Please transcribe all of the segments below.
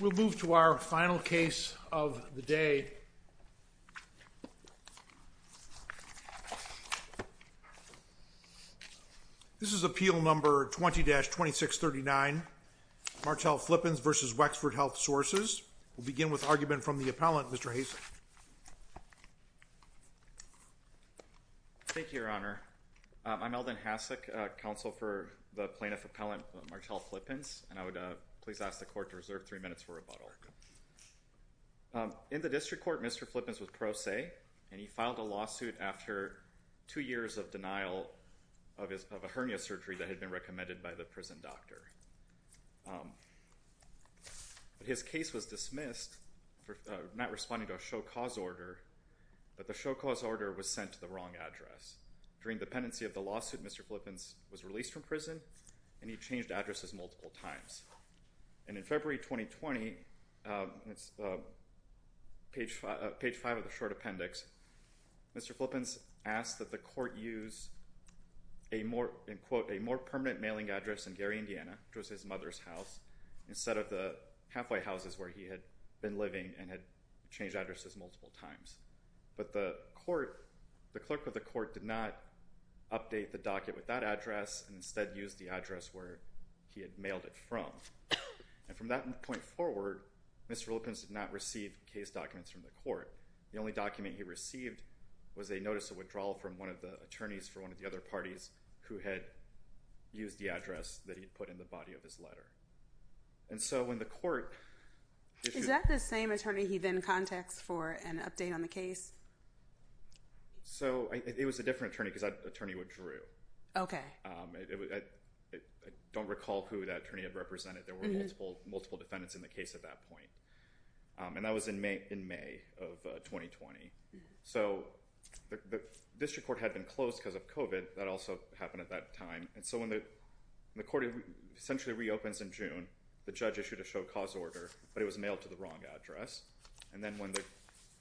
We'll move to our final case of the day. This is Appeal No. 20-2639, Martell Flippins v. Wexford Health Sources. We'll begin with argument from the appellant, Mr. Hasen. Thank you, Your Honor. I'm Eldon Hasek, counsel for the plaintiff appellant Martell Flippins, and I would please ask the court to reserve three minutes for rebuttal. In the district court, Mr. Flippins was pro se, and he filed a lawsuit after two years of denial of a hernia surgery that had been recommended by the prison doctor. His case was dismissed for not responding to a show cause order, but the show cause order was sent to the wrong address. During the pendency of the lawsuit, Mr. Flippins was released from prison, and he changed addresses multiple times. And in February 2020, page five of the short appendix, Mr. Flippins asked that the court use a more permanent mailing address in Gary, Indiana, which was his mother's house, instead of the halfway houses where he had been living and had changed addresses multiple times. But the court, the clerk of the court, did not update the docket with that address and instead used the address where he had mailed it from. And from that point forward, Mr. Flippins did not receive case documents from the court. The only document he received was a notice of withdrawal from one of the attorneys for one of the other parties who had used the address that he had put in the body of his letter. And so when the court... Is that the same attorney he then contacts for an update on the case? So it was a different attorney because that attorney withdrew. Okay. I don't recall who that attorney had represented. There were multiple defendants in the case at that point. And that was in May of 2020. So the district court had been closed because of COVID. That also happened at that time. And so when the court essentially reopens in June, the judge issued a show cause order, but it was mailed to the wrong address. And then when the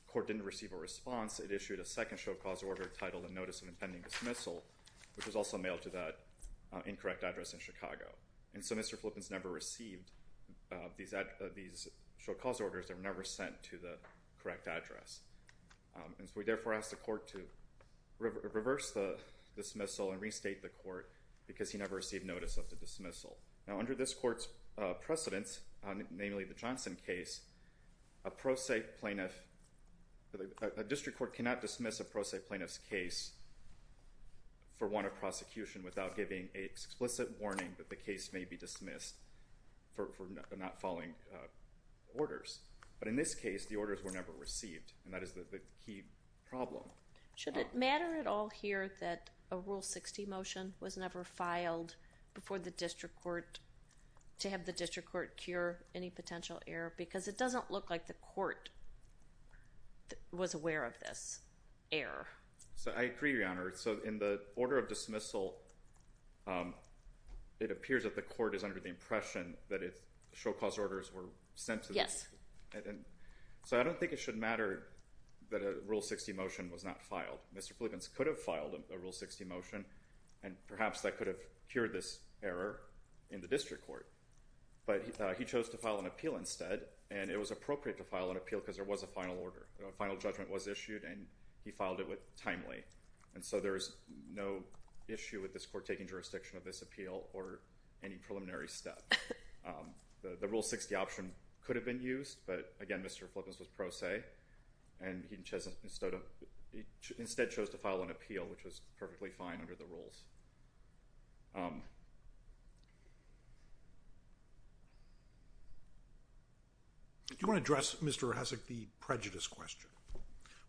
court didn't receive a response, it issued a second show cause order titled a notice of impending dismissal, which was also mailed to that incorrect address in Chicago. And so Mr. Flippins never received these show cause orders that were never sent to the correct address. And so we therefore asked the court to reverse the dismissal and restate the court because he never received notice of the dismissal. Now under this court's precedence, namely the Johnson case, a pro se plaintiff, a district court cannot dismiss a pro se plaintiff's case for want of prosecution without giving a explicit warning that the case may be dismissed for not following orders. But in this case, the orders were never received. And that is the key problem. Should it matter at all here that a Rule 60 motion was never filed before the district court to have the district court cure any potential error? Because it doesn't look like the court was aware of this error. So I agree, Your Honor. So in the order of dismissal, it appears that the court is under the impression that its show cause orders were sent to this. So I don't think it should matter that a Rule 60 motion was not filed. Mr. Flippins could have filed a Rule 60 motion and perhaps that could have cured this error in the district court. But he chose to file an appeal instead, and it was appropriate to file an appeal because there was a final order. A final judgment was issued and he filed it timely. And so there is no issue with this court taking jurisdiction of this appeal or any preliminary step. The Rule 60 option could have been used, but again, Mr. Flippins was pro se, and he instead chose to file an appeal, which was perfectly fine under the rules. Do you want to address, Mr. Hesek, the prejudice question?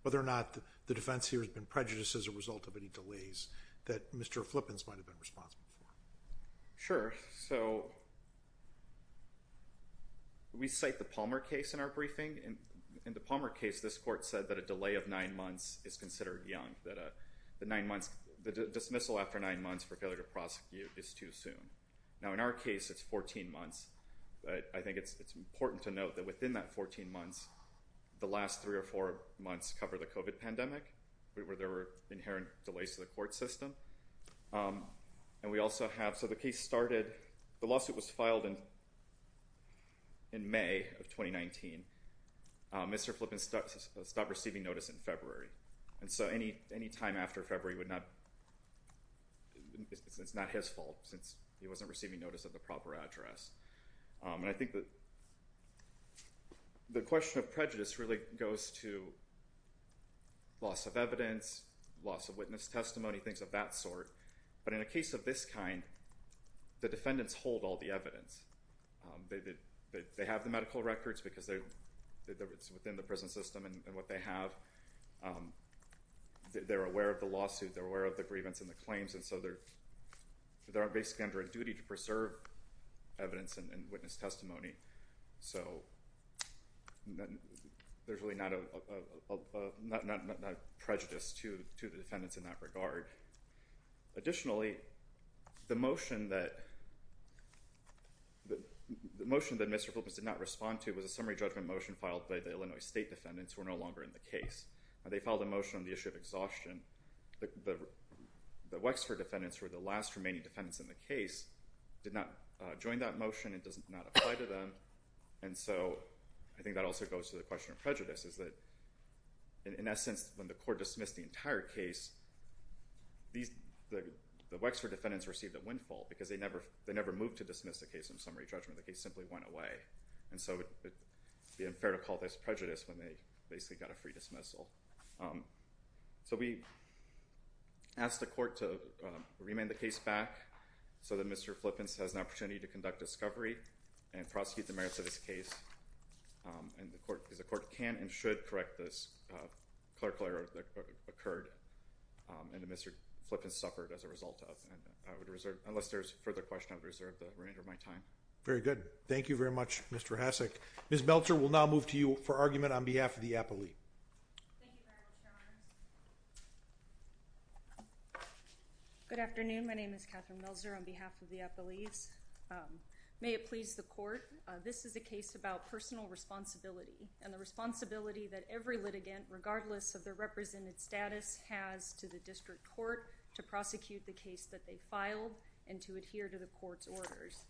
Whether or not the defense here has been prejudiced as a result of any delays that Mr. Flippins might have been responsible for? Sure. So, we cite the Palmer case in our briefing. In the Palmer case, this court said that a delay of nine months is considered young, that the dismissal after nine months for failure to prosecute is too soon. Now in our case, it's 14 months. I think it's important to note that within that 14 months, the last three or four months cover the COVID pandemic, where there were inherent delays to the court system. And we also have, so the case started, the lawsuit was filed in May of 2019. Mr. Flippins stopped receiving notice in February. And so any time after February would not, it's not his fault, since he wasn't receiving notice of the proper address. And I think that the question of prejudice really goes to loss of evidence, loss of witness testimony, things of that sort. But in a case of this kind, the defendants hold all the evidence. They have the medical records because it's within the prison system and what they have. They're aware of the lawsuit. They're aware of the grievance and the claims. And so they're basically under a duty to preserve evidence and witness testimony. So there's really not a prejudice to the defendants in that regard. Additionally, the motion that Mr. Flippins did not respond to was a summary judgment motion filed by the Illinois State defendants who are no longer in the case. They filed a motion on the issue of exhaustion. The Wexford defendants were the last remaining defendants in the case, did not join that And so I think that also goes to the question of prejudice, is that in essence, when the court dismissed the entire case, the Wexford defendants received a windfall because they never moved to dismiss the case in summary judgment. The case simply went away. And so it would be unfair to call this prejudice when they basically got a free dismissal. So we asked the court to remand the case back so that Mr. Flippins has an opportunity to repeat the merits of this case. And the court, because the court can and should correct this, occurred and Mr. Flippins suffered as a result of. And I would reserve, unless there's further question, I would reserve the remainder of my time. Very good. Thank you very much, Mr. Hasek. Ms. Meltzer, we'll now move to you for argument on behalf of the appellee. Thank you very much, Your Honors. Good afternoon. My name is Catherine Meltzer on behalf of the appellees. May it please the court, this is a case about personal responsibility and the responsibility that every litigant, regardless of their represented status, has to the district court to prosecute the case that they filed and to adhere to the court's orders.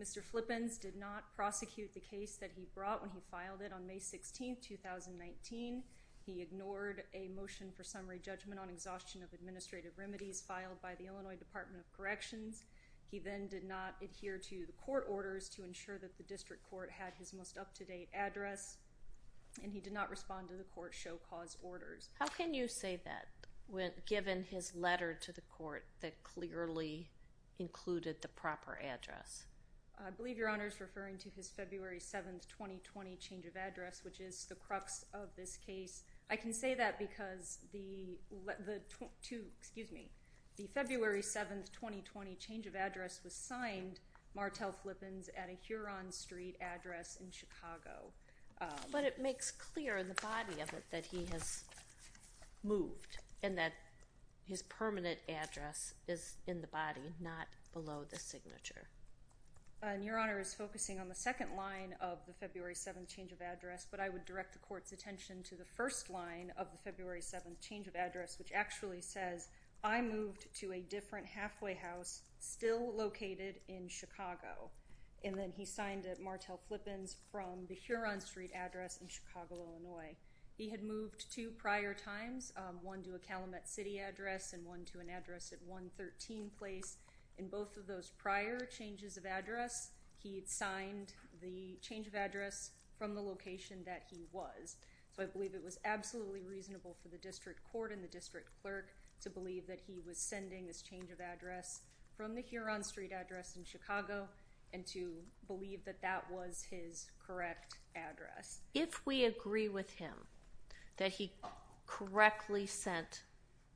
Mr. Flippins did not prosecute the case that he brought when he filed it on May 16, 2019. He ignored a motion for summary judgment on exhaustion of administrative remedies filed by the Illinois Department of Corrections. He then did not adhere to the court orders to ensure that the district court had his most up-to-date address, and he did not respond to the court's show cause orders. How can you say that, given his letter to the court that clearly included the proper address? I believe, Your Honors, referring to his February 7, 2020 change of address, which is the crux of this case. I can say that because the, excuse me, the February 7, 2020 change of address was signed Martel Flippins at a Huron Street address in Chicago. But it makes clear in the body of it that he has moved and that his permanent address is in the body, not below the signature. Your Honor is focusing on the second line of the February 7 change of address, but I believe it was the first line of the February 7 change of address, which actually says, I moved to a different halfway house still located in Chicago. And then he signed it Martel Flippins from the Huron Street address in Chicago, Illinois. He had moved two prior times, one to a Calumet City address and one to an address at 113 Place. In both of those prior changes of address, he had signed the change of address from the location that he was. So, I believe it was absolutely reasonable for the district court and the district clerk to believe that he was sending this change of address from the Huron Street address in Chicago and to believe that that was his correct address. If we agree with him that he correctly sent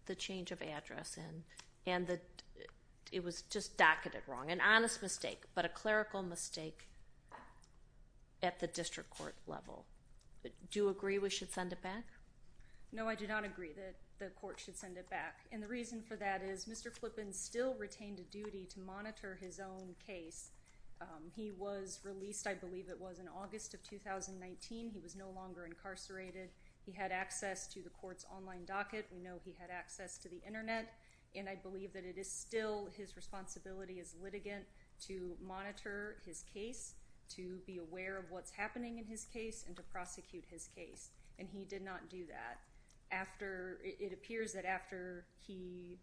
the change of address in and that it was just docketed wrong, an honest mistake, but a clerical mistake at the district court level, do agree we should send it back? No, I do not agree that the court should send it back. And the reason for that is Mr. Flippins still retained a duty to monitor his own case. He was released, I believe it was, in August of 2019. He was no longer incarcerated. He had access to the court's online docket. We know he had access to the internet and I believe that it is still his responsibility as litigant to monitor his case, to be aware of what's happening in his case, and to prosecute his case. And he did not do that. It appears that after he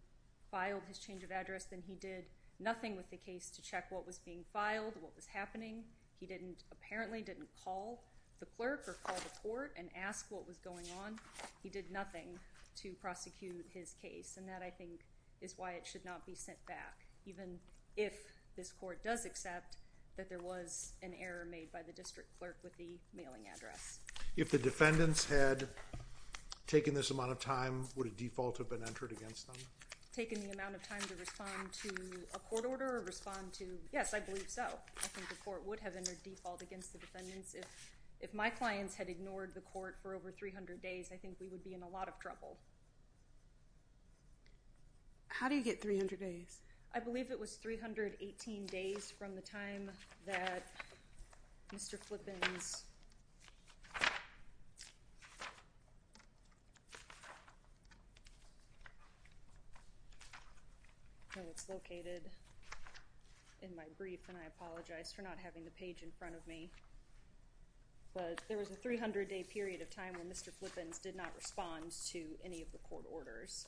filed his change of address then he did nothing with the case to check what was being filed, what was happening. He apparently didn't call the clerk or call the court and ask what was going on. He did nothing to prosecute his case and that, I think, is why it should not be sent back even if this court does accept that there was an error made by the district clerk with the mailing address. If the defendants had taken this amount of time, would a default have been entered against them? Taken the amount of time to respond to a court order or respond to, yes, I believe so. I think the court would have entered default against the defendants. If my clients had ignored the court for over 300 days, I think we would be in a lot of trouble. How do you get 300 days? I believe it was 318 days from the time that Mr. Flippins, and it's located in my brief, and I apologize for not having the page in front of me, but there was a 300-day period of time when Mr. Flippins did not respond to any of the court orders.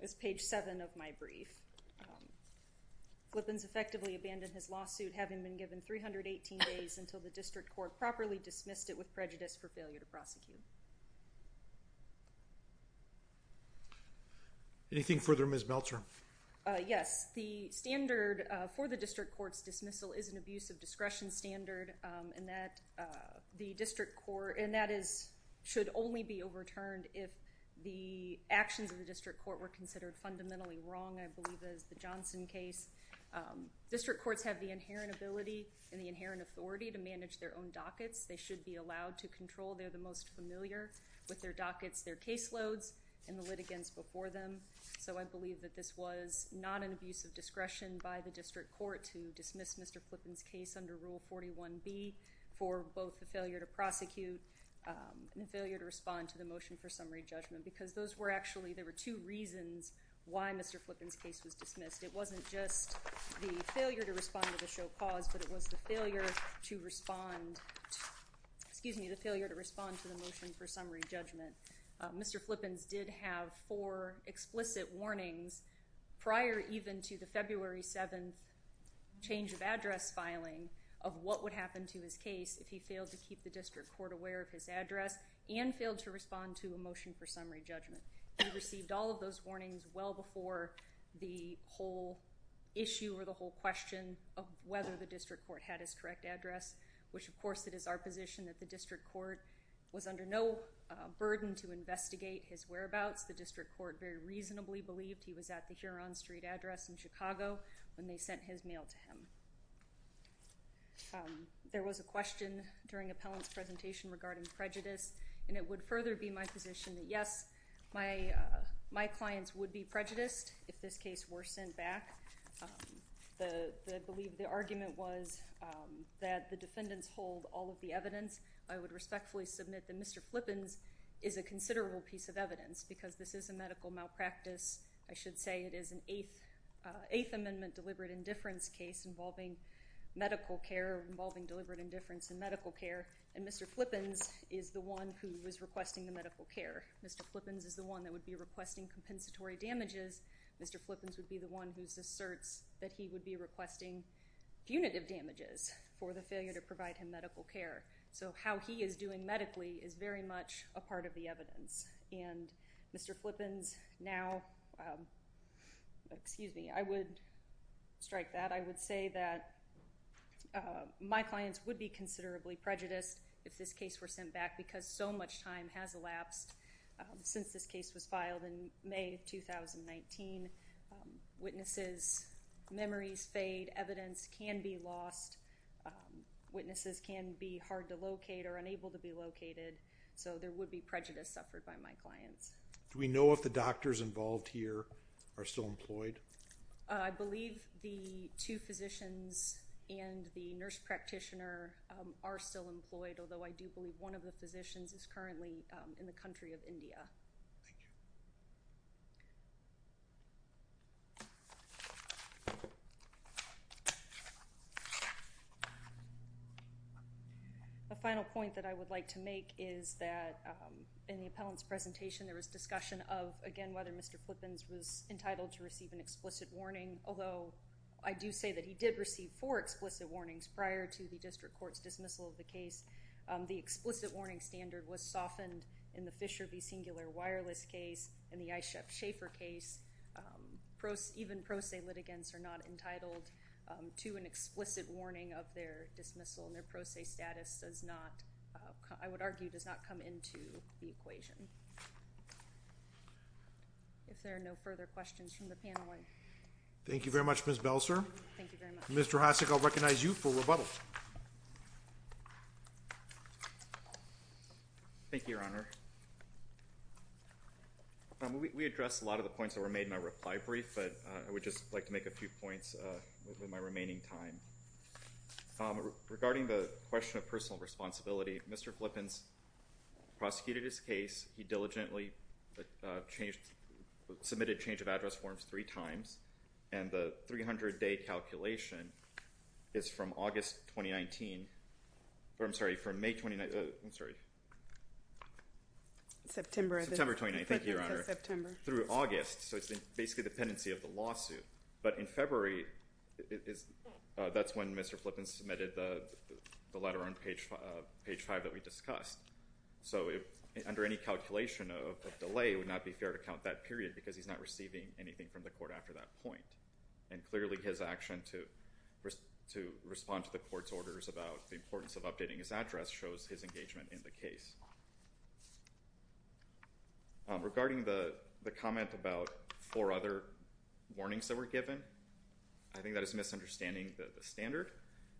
It's page 7 of my brief. Flippins effectively abandoned his lawsuit having been given 318 days until the district court properly dismissed it with prejudice for failure to prosecute. Anything further, Ms. Meltzer? Yes, the standard for the district court's dismissal is an abuse of discretion standard, and that should only be overturned if the actions of the district court were considered fundamentally wrong, I believe, as the Johnson case. District courts have the inherent ability and the inherent authority to manage their own dockets. They should be allowed to control. They are the most familiar with their dockets, their caseloads, and the litigants before them. So I believe that this was not an abuse of discretion by the district court to dismiss Mr. Flippins' case under Rule 41B for both the failure to prosecute and the failure to respond to the motion for summary judgment, because those were actually, there were two reasons why Mr. Flippins' case was dismissed. It wasn't just the failure to respond to the show cause, but it was the failure to respond to, excuse me, the failure to respond to the motion for summary judgment. Mr. Flippins did have four explicit warnings prior even to the February 7th change of address filing of what would happen to his case if he failed to keep the district court aware of his address and failed to respond to a motion for summary judgment. He received all of those warnings well before the whole issue or the whole question of whether the district court had his correct address, which, of course, it is our position that the district court was under no burden to investigate his whereabouts. The district court very reasonably believed he was at the Huron Street address in Chicago when they sent his mail to him. There was a question during appellant's presentation regarding prejudice, and it would further be my position that yes, my clients would be prejudiced if this case were sent back. I believe the argument was that the defendants hold all of the evidence. I would respectfully submit that Mr. Flippins is a considerable piece of evidence because this is a medical malpractice, I should say it is an Eighth Amendment deliberate indifference case involving medical care, involving deliberate indifference in medical care, and Mr. Flippins is the one who is requesting the medical care. Mr. Flippins is the one that would be requesting compensatory damages. Mr. Flippins would be the one who asserts that he would be requesting punitive damages for the failure to provide him medical care. So how he is doing medically is very much a part of the evidence. And Mr. Flippins now, excuse me, I would strike that, I would say that my clients would be considerably prejudiced if this case were sent back because so much time has elapsed since this case was filed in May of 2019. Witnesses' memories fade, evidence can be lost, witnesses can be hard to locate or unable to be located, so there would be prejudice suffered by my clients. Do we know if the doctors involved here are still employed? I believe the two physicians and the nurse practitioner are still employed, although I do believe one of the physicians is currently in the country of India. The final point that I would like to make is that in the appellant's presentation there was discussion of, again, whether Mr. Flippins was entitled to receive an explicit warning, although I do say that he did receive four explicit warnings prior to the district court's decision. The explicit warning standard was softened in the Fisher v. Singular Wireless case, in the I. Schaeffer case. Even pro se litigants are not entitled to an explicit warning of their dismissal, and their pro se status does not, I would argue, does not come into the equation. If there are no further questions from the panel, I... Thank you very much, Ms. Belser. Thank you very much. Mr. Hasek, I'll recognize you for rebuttal. Thank you, Your Honor. We addressed a lot of the points that were made in my reply brief, but I would just like to make a few points with my remaining time. Regarding the question of personal responsibility, Mr. Flippins prosecuted his case. He diligently submitted change of address forms three times, and the 300-day calculation is from August 2019, or I'm sorry, from May 2019, I'm sorry. September of 2019. September 2019, thank you, Your Honor. September. Through August, so it's basically the pendency of the lawsuit, but in February, that's when Mr. Flippins submitted the letter on page five that we discussed. So under any calculation of delay, it would not be fair to count that period because he's not receiving anything from the court after that point. And clearly, his action to respond to the court's orders about the importance of updating his address shows his engagement in the case. Regarding the comment about four other warnings that were given, I think that is misunderstanding the standard.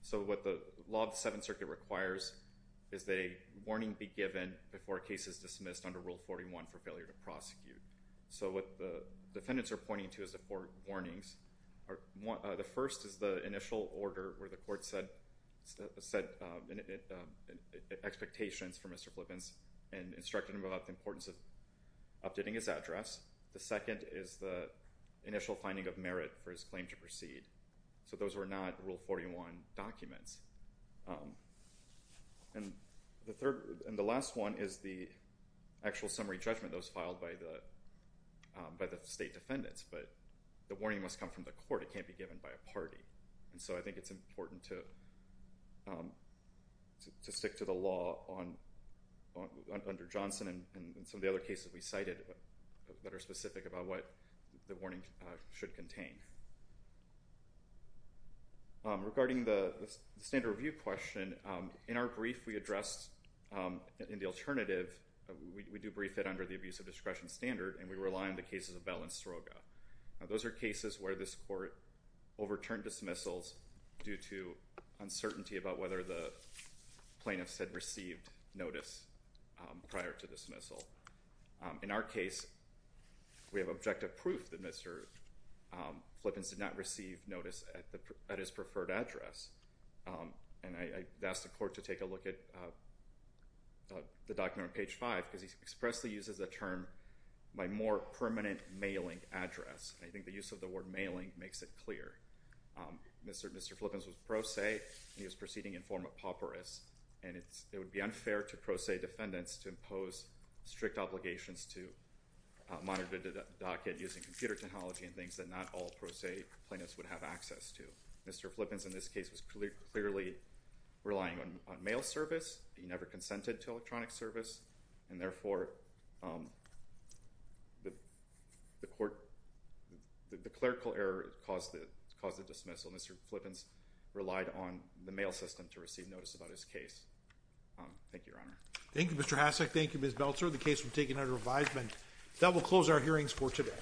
So what the law of the Seventh Circuit requires is that a warning be given before a case is dismissed under Rule 41 for failure to prosecute. So what the defendants are pointing to is the four warnings. The first is the initial order where the court said expectations for Mr. Flippins and instructed him about the importance of updating his address. The second is the initial finding of merit for his claim to proceed. So those were not Rule 41 documents. And the last one is the actual summary judgment that was filed by the state defendants, but the warning must come from the court. It can't be given by a party. And so I think it's important to stick to the law under Johnson and some of the other cases we cited that are specific about what the warning should contain. Regarding the standard review question, in our brief we addressed in the alternative, we do brief it under the abuse of discretion standard, and we rely on the cases of Bell and Sroga. Now those are cases where this court overturned dismissals due to uncertainty about whether the plaintiffs had received notice prior to dismissal. In our case, we have objective proof that Mr. Flippins did not receive notice at his preferred address. And I asked the court to take a look at the document on page 5 because he expressly uses the term, my more permanent mailing address, and I think the use of the word mailing makes it clear. Mr. Flippins was pro se, and he was proceeding in form of papyrus, and it would be unfair to pro se defendants to impose strict obligations to monitor the docket using computer technology and things that not all pro se plaintiffs would have access to. Mr. Flippins in this case was clearly relying on mail service. He never consented to electronic service, and therefore the court, the clerical error caused the dismissal. Mr. Flippins relied on the mail system to receive notice about his case. Thank you, Your Honor. Thank you, Mr. Hasek. Thank you, Ms. Belzer. The case will be taken under advisement. That will close our hearings for today.